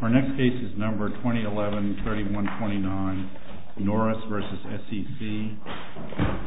Our next case is number 2011-3129 NORRIS v. SEC Thank you very much.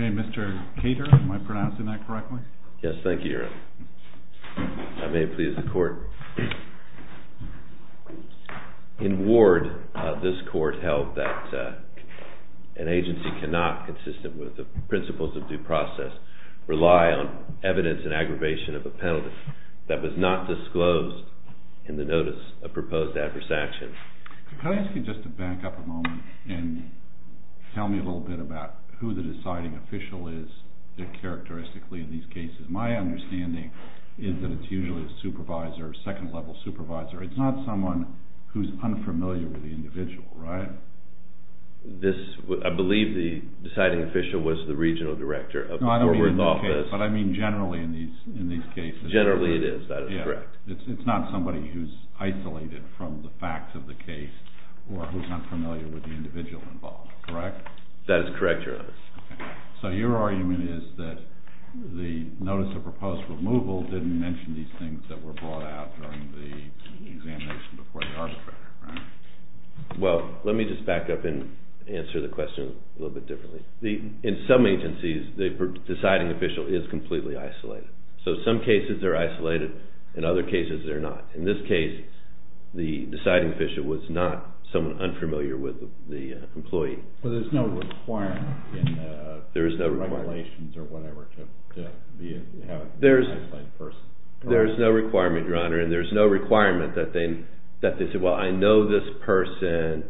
Okay, Mr. Cater, am I pronouncing that correctly? Yes, thank you, Your Honor. I may please the Court. In Ward, this Court held that an agency cannot, consistent with the principles of due process, rely on evidence and aggravation of a penalty that was not disclosed in the notice of proposed adverse action. Can I ask you just to back up a moment and tell me a little bit about who the deciding official is characteristically in these cases? My understanding is that it's usually a supervisor, a second-level supervisor. It's not someone who's unfamiliar with the individual, right? I believe the deciding official was the regional director of the forward office. No, I don't mean in this case, but I mean generally in these cases. Generally it is, that is correct. It's not somebody who's isolated from the facts of the case or who's not familiar with the individual involved, correct? That is correct, Your Honor. So your argument is that the notice of proposed removal didn't mention these things that were brought out during the examination before the arbitrator, right? Well, let me just back up and answer the question a little bit differently. In some agencies, the deciding official is completely isolated. So in some cases they're isolated, in other cases they're not. In this case, the deciding official was not someone unfamiliar with the employee. So there's no requirement in the regulations or whatever to have an isolated person? There's no requirement, Your Honor, and there's no requirement that they say, well, I know this person,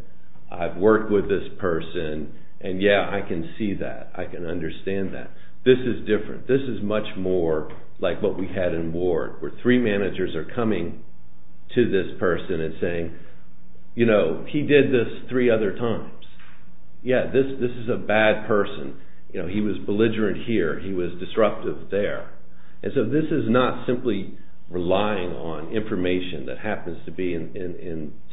I've worked with this person, and yeah, I can see that, I can understand that. This is different. This is much more like what we had in Ward where three managers are coming to this person and saying, you know, he did this three other times. Yeah, this is a bad person. You know, he was belligerent here, he was disruptive there. And so this is not simply relying on information that happens to be in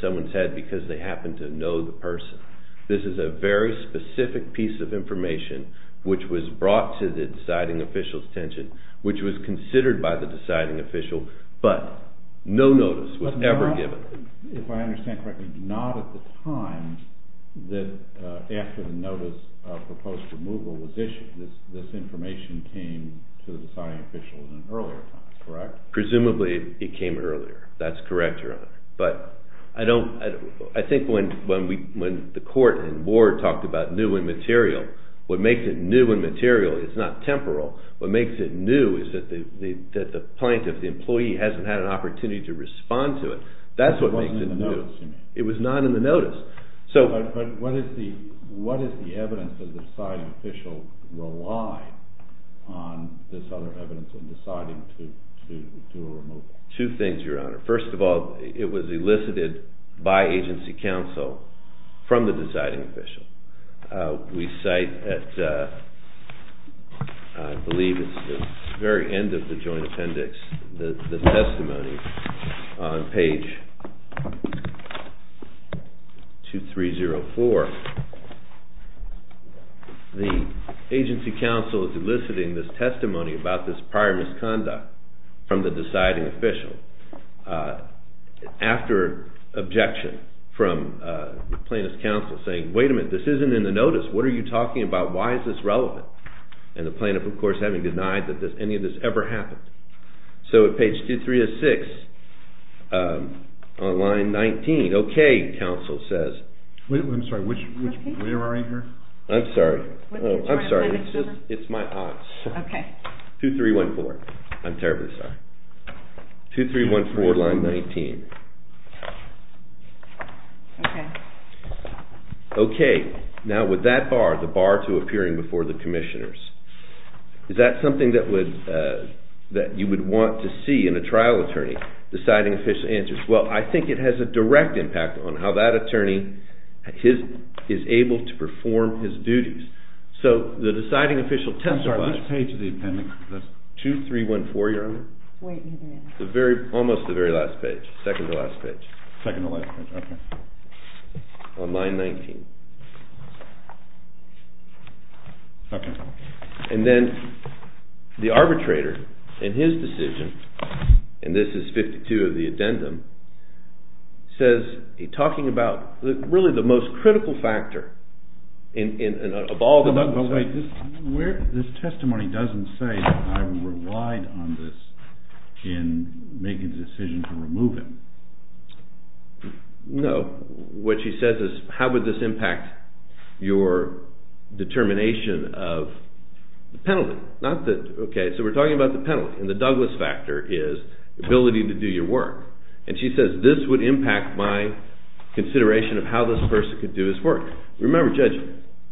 someone's head because they happen to know the person. This is a very specific piece of information which was brought to the deciding official's attention, which was considered by the deciding official, but no notice was ever given. But not, if I understand correctly, not at the time that after the notice of proposed removal was issued. This information came to the deciding official at an earlier time, correct? Presumably it came earlier. That's correct, Your Honor. I think when the court in Ward talked about new and material, what makes it new and material is not temporal. What makes it new is that the plaintiff, the employee, hasn't had an opportunity to respond to it. That's what makes it new. It wasn't in the notice, you mean? It was not in the notice. But what is the evidence that the deciding official relied on this other evidence in deciding to do a removal? Two things, Your Honor. First of all, it was elicited by agency counsel from the deciding official. We cite at, I believe it's the very end of the joint appendix, the testimony on page 2304. The agency counsel is eliciting this testimony about this prior misconduct from the deciding official. After objection from plaintiff's counsel saying, wait a minute, this isn't in the notice. What are you talking about? Why is this relevant? And the plaintiff, of course, having denied that any of this ever happened. So at page 2306 on line 19, okay, counsel says. I'm sorry, which way are we here? I'm sorry. I'm sorry. It's my odds. Okay. 2314. I'm terribly sorry. 2314 on line 19. Okay. Okay. Now with that bar, the bar to appearing before the commissioners, is that something that you would want to see in a trial attorney? Deciding official answers, well, I think it has a direct impact on how that attorney is able to perform his duties. So the deciding official testified. I'm sorry, which page of the appendix? 2314, Your Honor. Wait a minute. Almost the very last page, second to last page. Second to last page, okay. On line 19. Okay. And then the arbitrator, in his decision, and this is 52 of the addendum, says, talking about really the most critical factor of all the numbers. This testimony doesn't say that I relied on this in making the decision to remove him. No. What she says is, how would this impact your determination of the penalty? Okay, so we're talking about the penalty, and the Douglas factor is the ability to do your work. And she says, this would impact my consideration of how this person could do his work. Remember, Judge,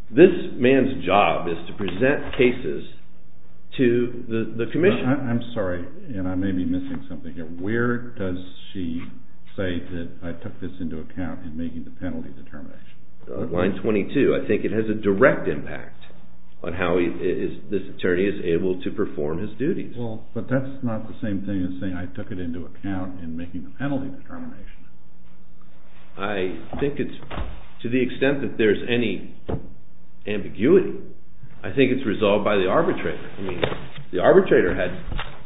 this man's job is to present cases to the commission. I'm sorry, and I may be missing something here. Where does she say that I took this into account in making the penalty determination? Line 22. I think it has a direct impact on how this attorney is able to perform his duties. Well, but that's not the same thing as saying I took it into account in making the penalty determination. I think it's, to the extent that there's any ambiguity, I think it's resolved by the arbitrator. I mean, the arbitrator had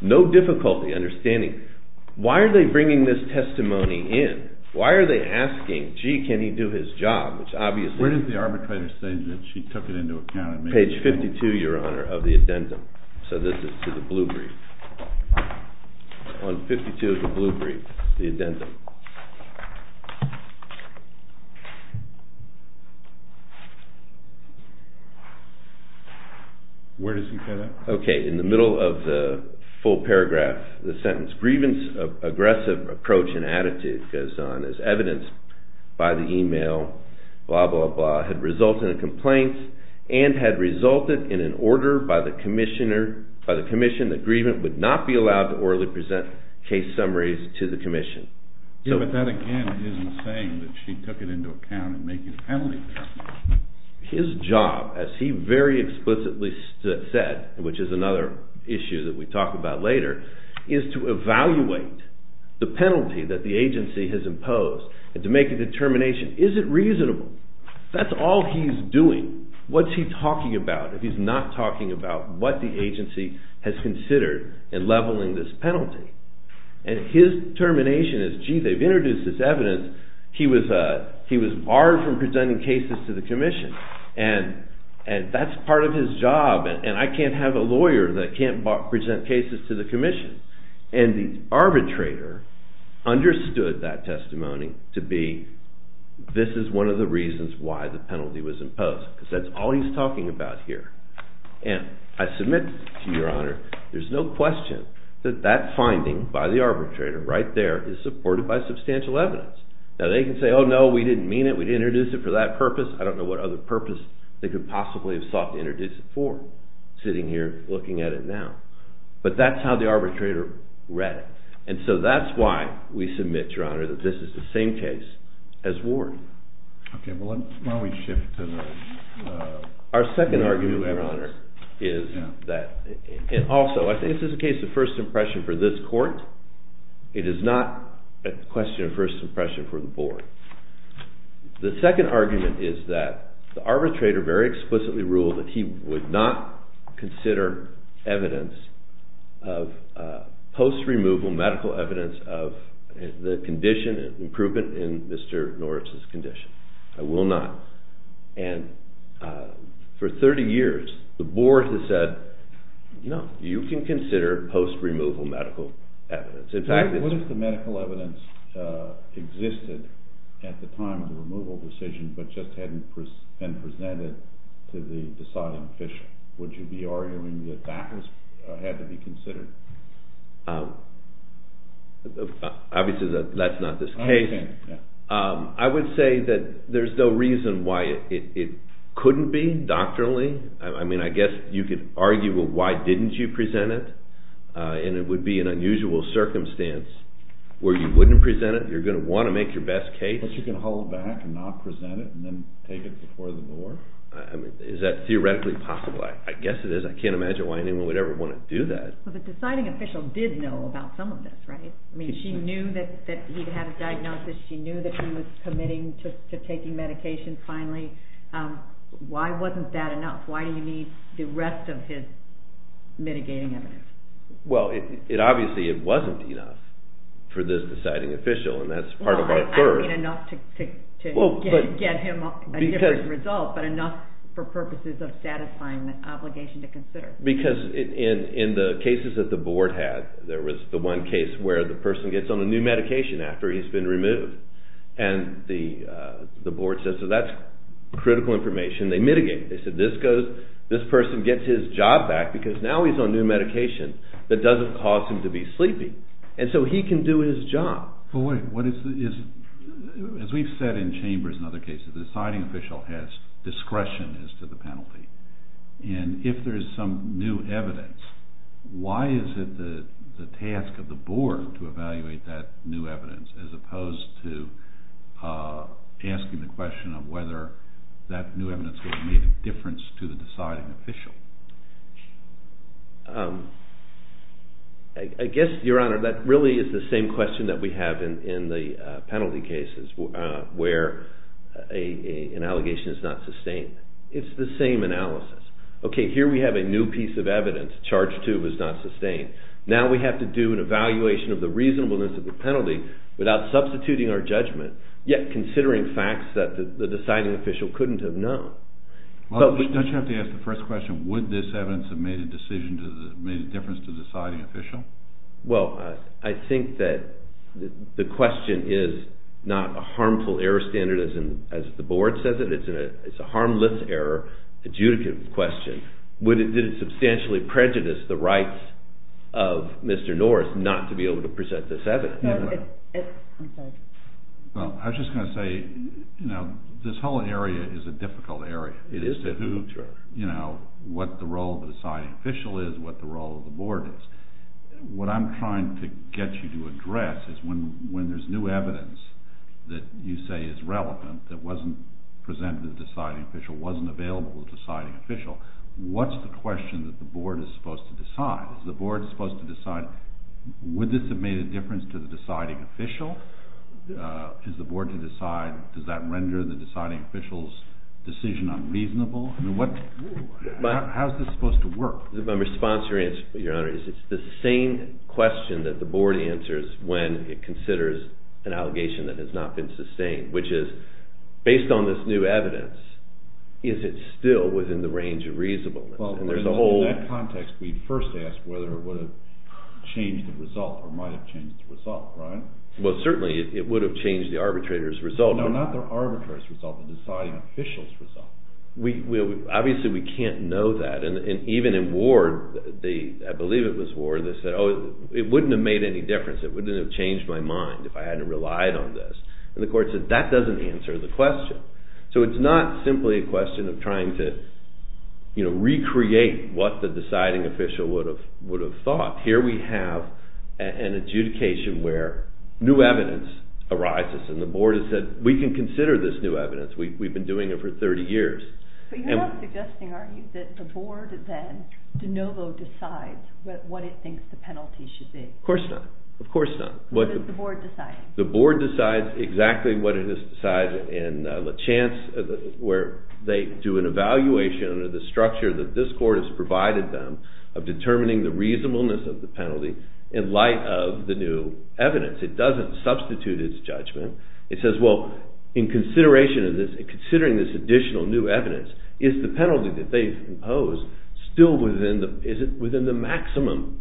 no difficulty understanding, why are they bringing this testimony in? Why are they asking, gee, can he do his job? Where does the arbitrator say that she took it into account? Page 52, Your Honor, of the addendum. So this is to the blue brief. 152 of the blue brief, the addendum. Where does he say that? Okay, in the middle of the full paragraph. The sentence, grievance, aggressive approach and attitude, goes on. As evidenced by the email, blah, blah, blah, had resulted in a complaint and had resulted in an order by the commissioner, by the commission, that grievance would not be allowed to orally present case summaries to the commission. Yeah, but that, again, isn't saying that she took it into account in making the penalty determination. His job, as he very explicitly said, which is another issue that we talk about later, is to evaluate the penalty that the agency has imposed and to make a determination. Is it reasonable? That's all he's doing. What's he talking about if he's not talking about what the agency has considered in leveling this penalty? And his determination is, gee, they've introduced this evidence. He was barred from presenting cases to the commission. And that's part of his job. And I can't have a lawyer that can't present cases to the commission. And the arbitrator understood that testimony to be, this is one of the reasons why the penalty was imposed. Because that's all he's talking about here. And I submit to your honor, there's no question that that finding by the arbitrator, right there, is supported by substantial evidence. Now they can say, oh no, we didn't mean it, we didn't introduce it for that purpose. I don't know what other purpose they could possibly have sought to introduce it for, sitting here looking at it now. But that's how the arbitrator read it. And so that's why we submit, your honor, that this is the same case as Ward. Okay, well why don't we shift to the... Our second argument, your honor, is that, and also I think this is a case of first impression for this court. It is not a question of first impression for the board. The second argument is that the arbitrator very explicitly ruled that he would not consider evidence of post-removal medical evidence of the condition, improvement in Mr. Norris's condition. I will not. And for 30 years, the board has said, no, you can consider post-removal medical evidence. What if the medical evidence existed at the time of the removal decision, but just hadn't been presented to the deciding official? Would you be arguing that that had to be considered? Obviously, that's not this case. I would say that there's no reason why it couldn't be, doctrinally. I mean, I guess you could argue, well, why didn't you present it? And it would be an unusual circumstance where you wouldn't present it, you're going to want to make your best case. But you can hold back and not present it and then take it before the board? Is that theoretically possible? I guess it is. I can't imagine why anyone would ever want to do that. But the deciding official did know about some of this, right? I mean, she knew that he'd had a diagnosis. She knew that he was committing to taking medication finally. Why wasn't that enough? Why do you need the rest of his mitigating evidence? Well, obviously, it wasn't enough for this deciding official, and that's part of my third. I mean, enough to get him a different result, but enough for purposes of satisfying the obligation to consider. Because in the cases that the board had, there was the one case where the person gets on a new medication after he's been removed. And the board says, so that's critical information. They mitigate it. They said, this person gets his job back because now he's on new medication that doesn't cause him to be sleepy. And so he can do his job. As we've said in chambers and other cases, the deciding official has discretion as to the penalty. And if there is some new evidence, why is it the task of the board to evaluate that new evidence as opposed to asking the question of whether that new evidence would have made a difference to the deciding official? I guess, Your Honor, that really is the same question that we have in the penalty cases where an allegation is not sustained. It's the same analysis. Okay, here we have a new piece of evidence. Charge 2 was not sustained. Now we have to do an evaluation of the reasonableness of the penalty without substituting our judgment, yet considering facts that the deciding official couldn't have known. Don't you have to ask the first question, would this evidence have made a difference to the deciding official? Well, I think that the question is not a harmful error standard, as the board says it. It's a harmless error adjudicative question. Would it substantially prejudice the rights of Mr. Norris not to be able to present this evidence? I was just going to say this whole area is a difficult area. It is difficult, sure. What the role of the deciding official is, what the role of the board is. What I'm trying to get you to address is when there's new evidence that you say is relevant that wasn't presented to the deciding official, wasn't available to the deciding official, what's the question that the board is supposed to decide? Is the board supposed to decide, would this have made a difference to the deciding official? Is the board to decide, does that render the deciding official's decision unreasonable? How is this supposed to work? My response, Your Honor, is it's the same question that the board answers when it considers an allegation that has not been sustained, which is, based on this new evidence, is it still within the range of reasonableness? In that context, we first ask whether it would have changed the result or might have changed the result, right? Well, certainly it would have changed the arbitrator's result. No, not the arbitrator's result, the deciding official's result. Obviously, we can't know that. And even in Ward, I believe it was Ward, they said, oh, it wouldn't have made any difference. It wouldn't have changed my mind if I hadn't relied on this. And the court said, that doesn't answer the question. So it's not simply a question of trying to recreate what the deciding official would have thought. Here we have an adjudication where new evidence arises and the board has said, we can consider this new evidence. We've been doing it for 30 years. But you're not suggesting, are you, that the board then de novo decides what it thinks the penalty should be? Of course not. Of course not. What does the board decide? The board decides exactly what it has decided in La Chance, where they do an evaluation under the structure that this court has provided them of determining the reasonableness of the penalty in light of the new evidence. It doesn't substitute its judgment. It says, well, in considering this additional new evidence, is the penalty that they've imposed still within the maximum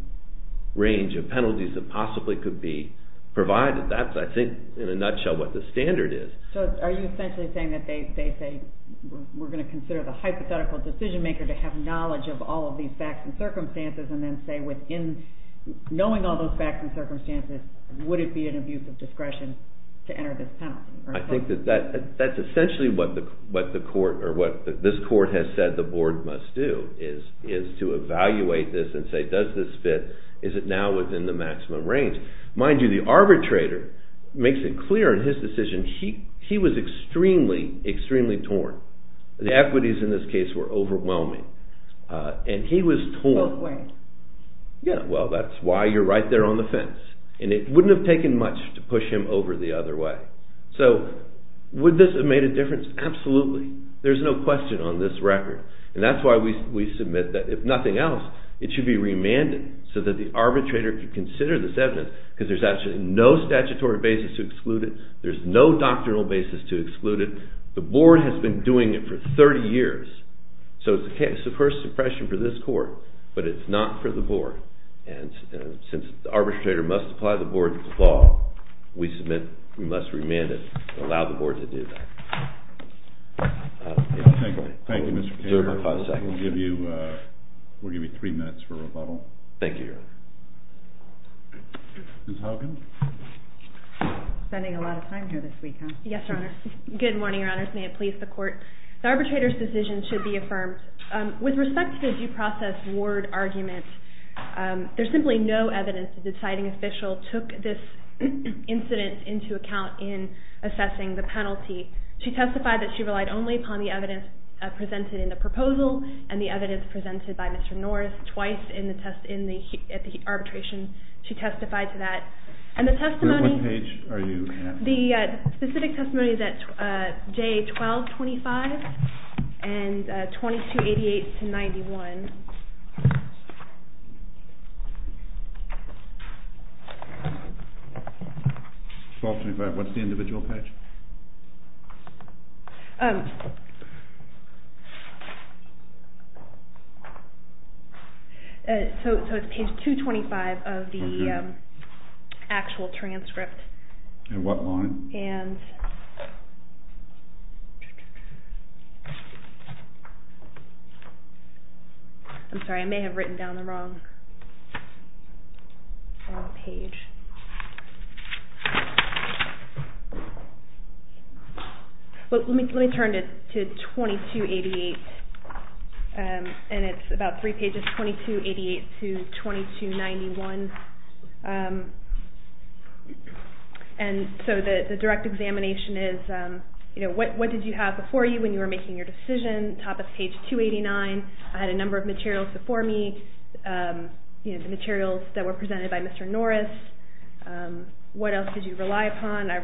range of penalties that possibly could be provided? That's, I think, in a nutshell, what the standard is. So are you essentially saying that they say, we're going to consider the hypothetical decision-maker to have knowledge of all of these facts and circumstances and then say, knowing all those facts and circumstances, would it be an abuse of discretion to enter this penalty? I think that that's essentially what this court has said the board must do, is to evaluate this and say, does this fit? Is it now within the maximum range? Mind you, the arbitrator makes it clear in his decision he was extremely, extremely torn. The equities in this case were overwhelming. And he was torn. Both ways. Yeah, well, that's why you're right there on the fence. And it wouldn't have taken much to push him over the other way. So would this have made a difference? Absolutely. There's no question on this record. And that's why we submit that, if nothing else, it should be remanded so that the arbitrator could consider this evidence because there's actually no statutory basis to exclude it. There's no doctrinal basis to exclude it. The board has been doing it for 30 years. So it's the first suppression for this court, but it's not for the board. And since the arbitrator must apply the board's law, we submit we must remand it and allow the board to do that. Thank you, Mr. Taylor. We'll give you three minutes for rebuttal. Thank you, Your Honor. Ms. Haugen. Spending a lot of time here this week, huh? Yes, Your Honor. Good morning, Your Honors. May it please the Court. The arbitrator's decision should be affirmed. With respect to the due process ward argument, there's simply no evidence that the deciding official took this incident into account in assessing the penalty. She testified that she relied only upon the evidence presented in the proposal and the evidence presented by Mr. North twice at the arbitration. She testified to that. What page are you at? The specific testimony is at J1225 and 2288-91. What's the individual page? So it's page 225 of the actual transcript. And what line? I'm sorry, I may have written down the wrong page. Well, let me turn to 2288, and it's about three pages, 2288-2291. And so the direct examination is, you know, what did you have before you when you were making your decision? Top of page 289. I had a number of materials before me, you know, the materials that were presented by Mr. Norris. What else did you rely upon? I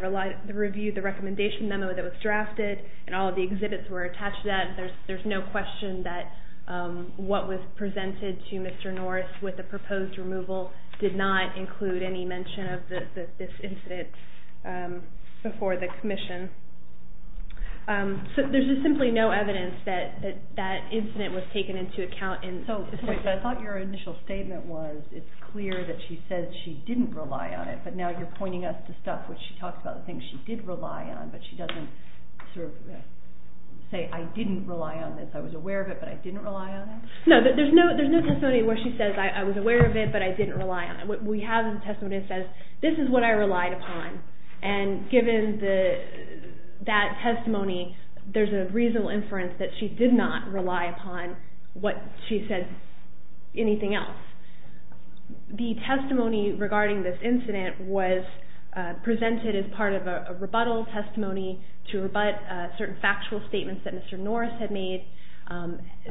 reviewed the recommendation memo that was drafted, and all of the exhibits were attached to that. There's no question that what was presented to Mr. Norris with the proposed removal did not include any mention of this incident before the commission. So there's just simply no evidence that that incident was taken into account. So I thought your initial statement was it's clear that she says she didn't rely on it, but now you're pointing us to stuff where she talks about the things she did rely on, but she doesn't sort of say, I didn't rely on this. I was aware of it, but I didn't rely on it? No, there's no testimony where she says, I was aware of it, but I didn't rely on it. We have a testimony that says, this is what I relied upon, and given that testimony, there's a reasonable inference that she did not rely upon what she said, anything else. The testimony regarding this incident was presented as part of a rebuttal testimony to rebut certain factual statements that Mr. Norris had made.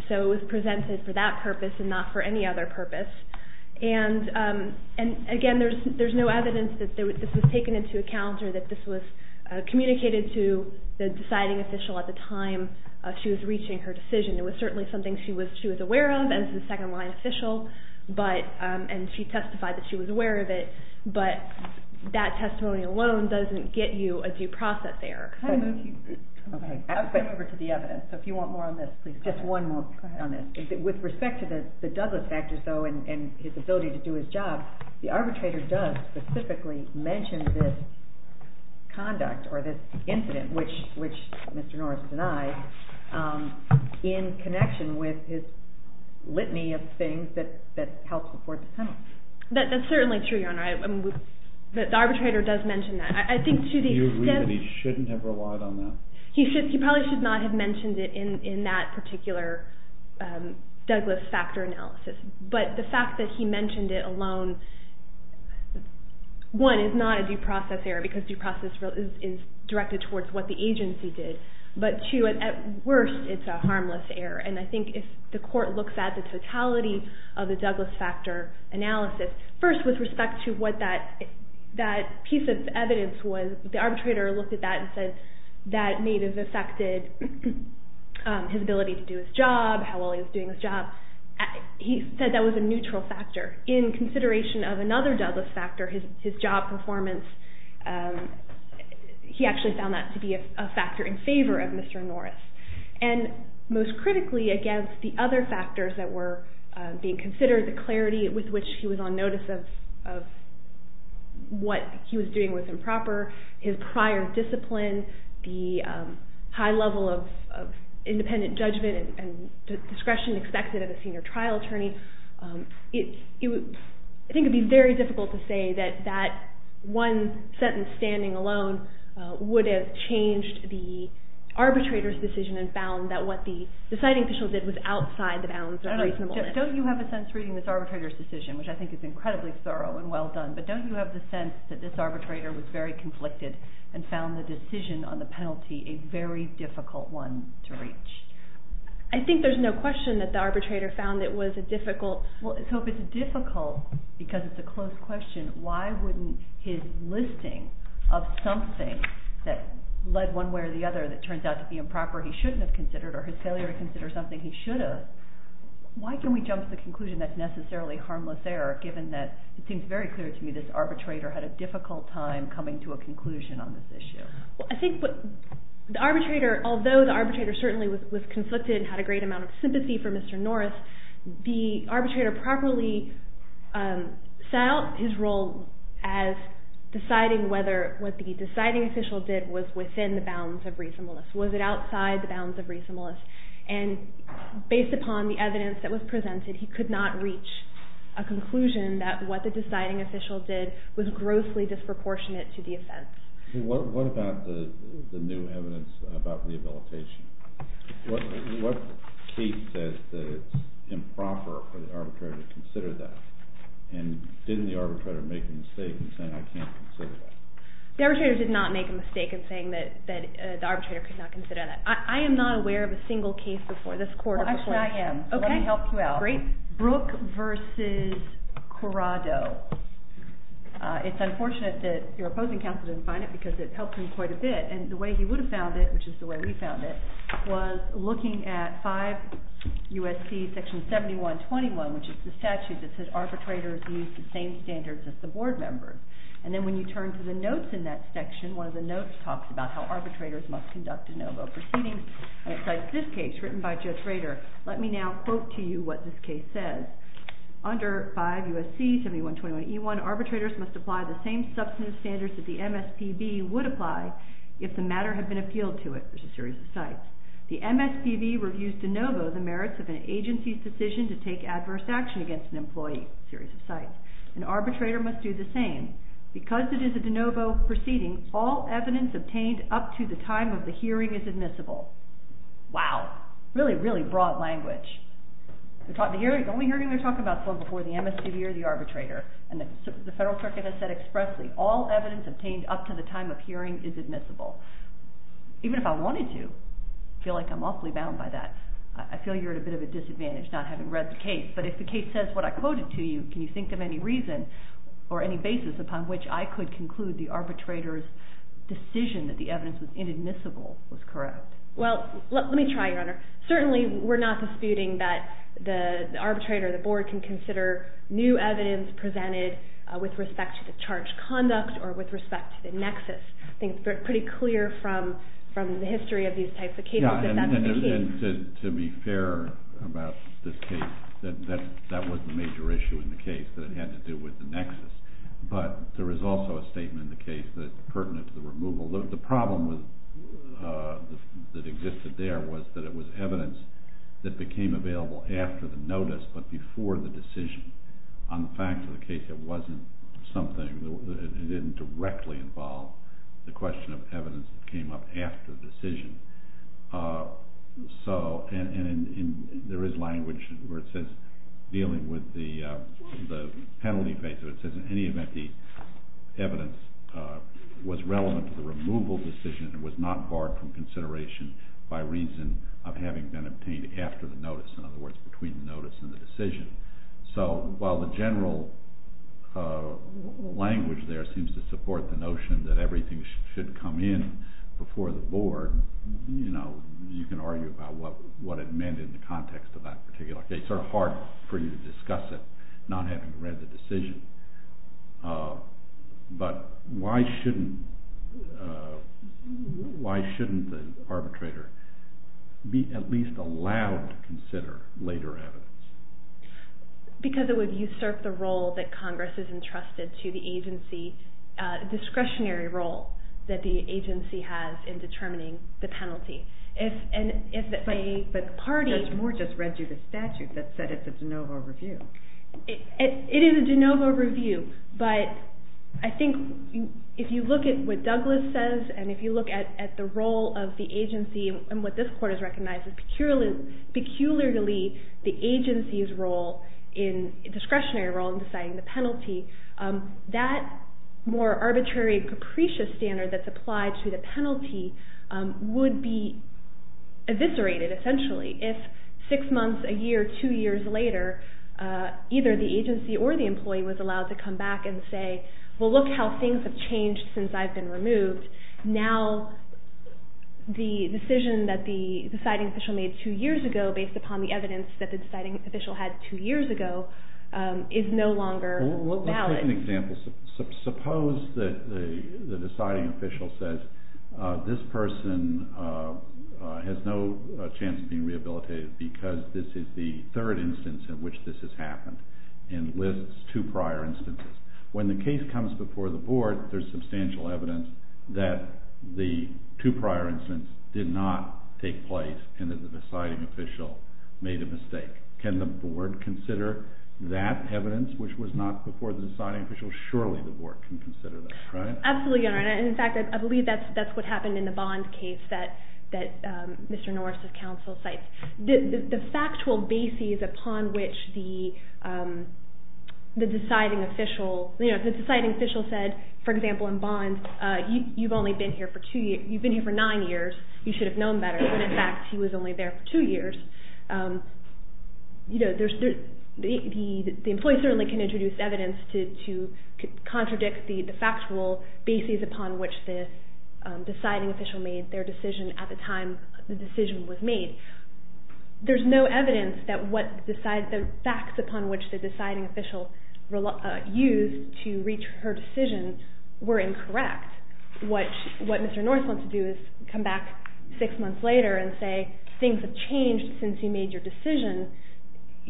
So it was presented for that purpose and not for any other purpose. And again, there's no evidence that this was taken into account or that this was communicated to the deciding official at the time she was reaching her decision. It was certainly something she was aware of as the second-line official, and she testified that she was aware of it, but that testimony alone doesn't get you a due process there. I'll swing over to the evidence, so if you want more on this, please go ahead. Just one more on this. With respect to the Douglas factors, though, and his ability to do his job, the arbitrator does specifically mention this conduct or this incident, which Mr. Norris denied, in connection with his litany of things that helped support the penalty. That's certainly true, Your Honor. The arbitrator does mention that. Do you agree that he shouldn't have relied on that? He probably should not have mentioned it in that particular Douglas factor analysis, but the fact that he mentioned it alone, one, is not a due process error because due process is directed towards what the agency did, but two, at worst, it's a harmless error, and I think if the court looks at the totality of the Douglas factor analysis, first, with respect to what that piece of evidence was, the arbitrator looked at that and said that may have affected his ability to do his job, how well he was doing his job. He said that was a neutral factor. In consideration of another Douglas factor, his job performance, he actually found that to be a factor in favor of Mr. Norris, and most critically, against the other factors that were being considered, the clarity with which he was on notice of what he was doing was improper, his prior discipline, the high level of independent judgment and discretion expected of a senior trial attorney, I think it would be very difficult to say that that one sentence standing alone would have changed the arbitrator's decision and found that what the deciding official did was outside the bounds of reasonableness. Don't you have a sense reading this arbitrator's decision, which I think is incredibly thorough and well done, but don't you have the sense that this arbitrator was very conflicted and found the decision on the penalty a very difficult one to reach? I think there's no question that the arbitrator found it was a difficult... Well, so if it's difficult because it's a closed question, why wouldn't his listing of something that led one way or the other that turns out to be improper he shouldn't have considered or his failure to consider something he should have, why can we jump to the conclusion that's necessarily harmless error, given that it seems very clear to me this arbitrator had a difficult time coming to a conclusion on this issue. I think the arbitrator, although the arbitrator certainly was conflicted and had a great amount of sympathy for Mr. Norris, the arbitrator properly set out his role as deciding whether what the deciding official did was within the bounds of reasonableness. Was it outside the bounds of reasonableness? And based upon the evidence that was presented, he could not reach a conclusion that what the deciding official did was grossly disproportionate to the offense. What about the new evidence about rehabilitation? What case says that it's improper for the arbitrator to consider that? And didn't the arbitrator make a mistake in saying I can't consider that? The arbitrator did not make a mistake in saying that the arbitrator could not consider that. I am not aware of a single case before this court. Actually, I am. Let me help you out. Brooke v. Corrado. It's unfortunate that your opposing counsel didn't find it because it helped him quite a bit, and the way he would have found it, which is the way we found it, was looking at 5 U.S.C. section 7121, which is the statute that says arbitrators use the same standards as the board members. And then when you turn to the notes in that section, one of the notes talks about how arbitrators must conduct de novo proceedings, and it's like this case written by Judge Rader. Let me now quote to you what this case says. Under 5 U.S.C. 7121E1, arbitrators must apply the same substantive standards that the MSPB would apply if the matter had been appealed to it, which is a series of cites. The MSPB reviews de novo the merits of an agency's decision to take adverse action against an employee, a series of cites. An arbitrator must do the same. Because it is a de novo proceeding, all evidence obtained up to the time of the hearing is admissible. Wow. Really, really broad language. The only hearing they're talking about is the one before the MSPB or the arbitrator, and the Federal Circuit has said expressly all evidence obtained up to the time of hearing is admissible. Even if I wanted to, I feel like I'm awfully bound by that. I feel you're at a bit of a disadvantage not having read the case. But if the case says what I quoted to you, can you think of any reason or any basis upon which I could conclude the arbitrator's decision that the evidence was inadmissible was correct? Well, let me try, Your Honor. Certainly, we're not disputing that the arbitrator or the board can consider new evidence presented with respect to the charge conduct or with respect to the nexus. I think it's pretty clear from the history of these types of cases that that's the case. Yeah, and to be fair about this case, that that wasn't a major issue in the case, that it had to do with the nexus. But there is also a statement in the case that pertinent to the removal. The problem that existed there was that it was evidence that became available after the notice but before the decision on the fact of the case, it wasn't something, it didn't directly involve the question of evidence that came up after the decision. So, and there is language where it says, dealing with the penalty phase, where it says, in any event, the evidence was relevant to the removal decision and was not barred from consideration by reason of having been obtained after the notice, in other words, between the notice and the decision. So, while the general language there seems to support the notion that everything should come in before the board, you know, you can argue about what it meant in the context of that particular case. It's sort of hard for you to discuss it not having read the decision. But why shouldn't, why shouldn't the arbitrator be at least allowed to consider later evidence? Because it would usurp the role that Congress has entrusted to the agency, discretionary role that the agency has in determining the penalty. If the party... Judge Moore just read you the statute that said it's a de novo review. It is a de novo review, but I think if you look at what Douglas says and if you look at the role of the agency and what this court has recognized as peculiarly the agency's role in discretionary role in deciding the penalty, that more arbitrary and capricious standard that's applied to the penalty would be eviscerated essentially if six months, a year, two years later either the agency or the employee was allowed to come back and say, well look how things have changed since I've been removed. Now, the decision that the deciding official made two years ago based upon the evidence that the deciding official had two years ago is no longer valid. Let's take an example. Suppose that the deciding official says this person has no chance of being rehabilitated because this is the third instance in which this has happened and lists two prior instances. When the case comes before the board, there's substantial evidence that the two prior instances did not take place and that the deciding official made a mistake. Can the board consider that evidence which was not before the deciding official? Surely the board can consider that, right? Absolutely, Your Honor. In fact, I believe that's what happened in the Bond case that Mr. Norris, the counsel, cites. The factual basis upon which the deciding official, the deciding official said, for example in Bond, you've only been here for two years, you've been here for nine years, you should have known better when in fact he was only there for two years. You know, the employee certainly can introduce evidence to contradict the factual basis upon which the deciding official made their decision at the time the decision was made. There's no evidence that the facts upon which the deciding official were incorrect. What Mr. Norris wants to do is come back six months later and say things have changed, since you made your decision,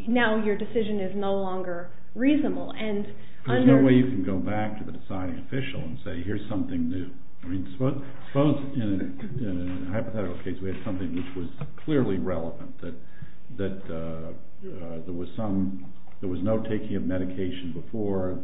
now your decision is no longer reasonable. There's no way you can go back to the deciding official and say, here's something new. I mean, suppose in a hypothetical case we had something which was clearly relevant, that there was some, there was no taking of medication before,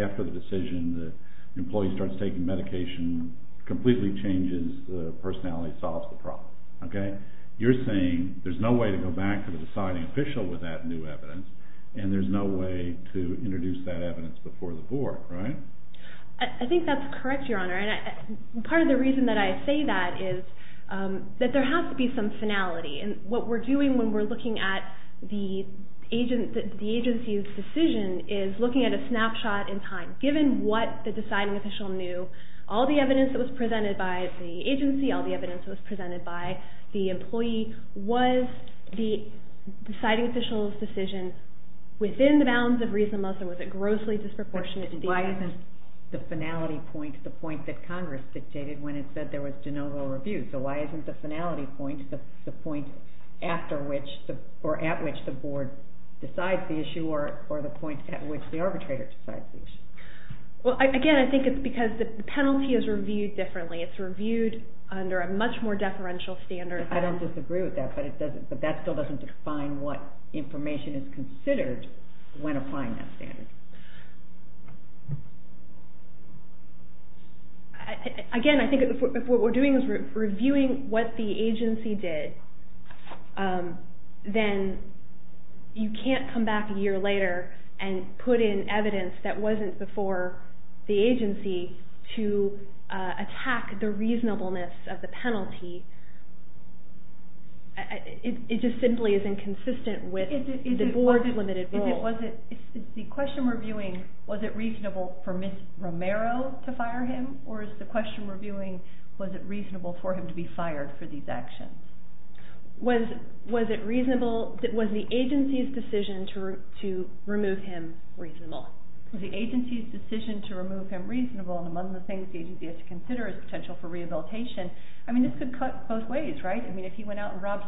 after the decision, the employee starts taking medication, completely changes, the personality solves the problem, okay? You're saying there's no way to go back to the deciding official with that new evidence, and there's no way to introduce that evidence before the board, right? I think that's correct, Your Honor, and part of the reason that I say that is that there has to be some finality, and what we're doing when we're looking at the agency's decision is looking at a snapshot in time, given what the deciding official knew, all the evidence that was presented by the agency, all the evidence that was presented by the employee, was the deciding official's decision within the bounds of reasonable, or was it grossly disproportionate? Why isn't the finality point the point that Congress dictated when it said there was de novo review, so why isn't the finality point the point after which, or at which the board decides the issue, or the point at which the arbitrator decides the issue? Well, again, I think it's because the penalty is reviewed differently, it's reviewed under a much more deferential standard. I don't disagree with that, but that still doesn't define what information is considered when applying that standard. Again, I think if what we're doing is reviewing what the agency then you can't come back a year later and put in evidence that wasn't before the agency to attack the reasonableness of the agency's decision to remove him reasonable. The agency's decision to remove him has to consider is potential for rehabilitation and the potential for the agency to remove him reasonable and the agency reasonable. I'm not going to spare your honor. The objection was gobbledygook.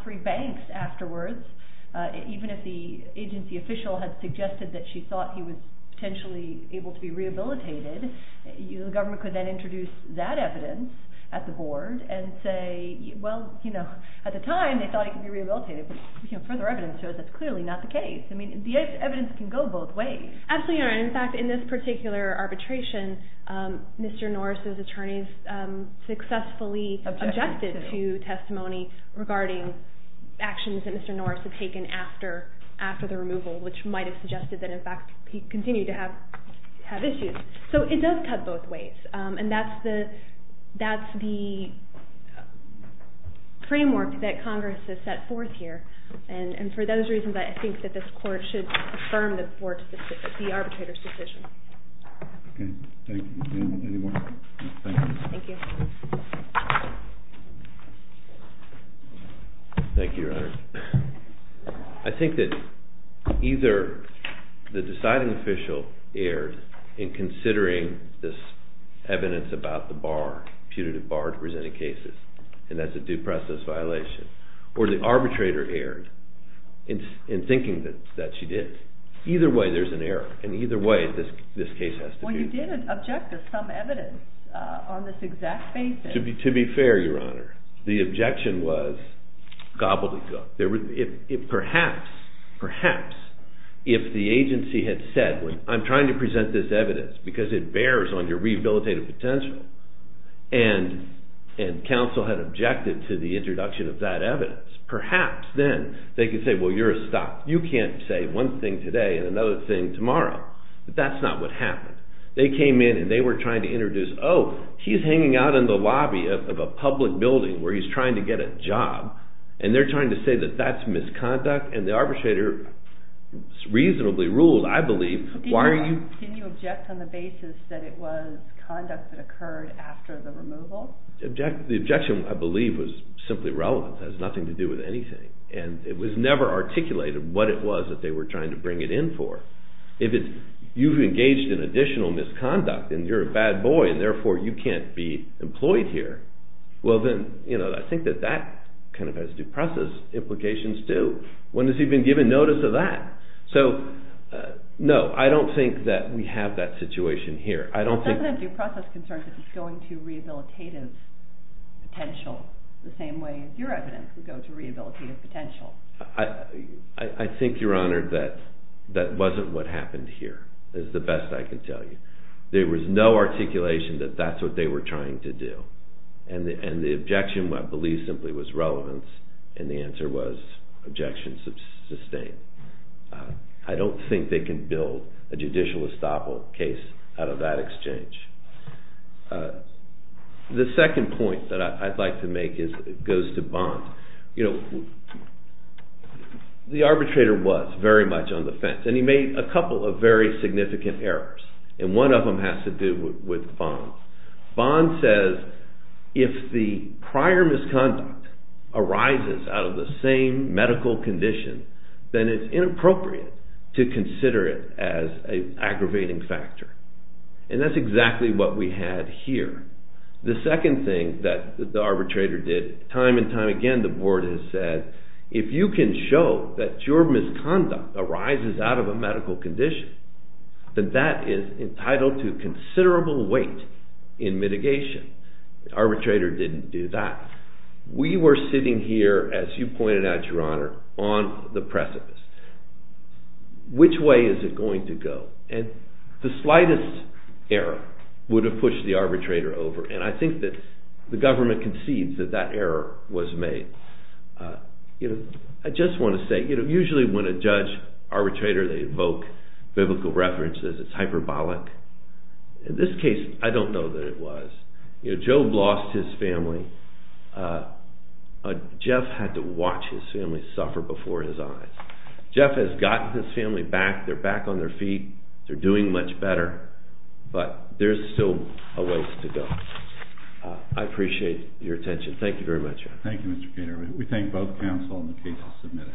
Perhaps if the agency had said I'm trying to present this evidence because it bears on your potential and counsel objected to the introduction of that evidence. Perhaps then they could say you can't say one thing today and another thing tomorrow. That's not what happened. They were trying to introduce he's hanging out in the lobby of a public building where he's trying to get a job and they're trying to get a job. That has nothing to do with anything. It was never articulated what it was they were trying to bring it in for. You've engaged in additional misconduct and you're a bad boy and you can't be employed here. That has due process implications too. When has he been given notice of that? No, I don't think we have that situation here. It doesn't have due process concerns. It's going to rehabilitative potential. I think you're honored that that wasn't what happened here. There was no articulation that that's what they were trying to do. I don't think they can build a judicial case out of that exchange. The second point that I'd like to make goes to Bond. The arbitrator was very much on the fence and he made a couple of very significant errors. One of them has to do with Bond. Bond says if the prior misconduct arises out of the same medical condition, then it's inappropriate to consider it as an aggravating factor. And that's exactly what we had here. The second thing that the arbitrator did time and time again, the board has said, if you can show that your misconduct arises out of a medical condition, then that is entitled to considerable weight in mitigation. The arbitrator didn't do that. We were sitting here, as you pointed out, your honor, on the precipice. Which way is it going to go? And the slightest error would have pushed the arbitrator over. And I think that the government concedes that that error was made. to say, usually when a judge, arbitrator, they evoke biblical references, it's hyperbolic. In this case, I don't know that it was. Job lost his family. Jeff had to watch his family suffer before his eyes. Jeff has gotten his life back. I appreciate your attention. Thank you very much. Thank you, Mr. Kater. We thank both counsel and the case is submitted.????????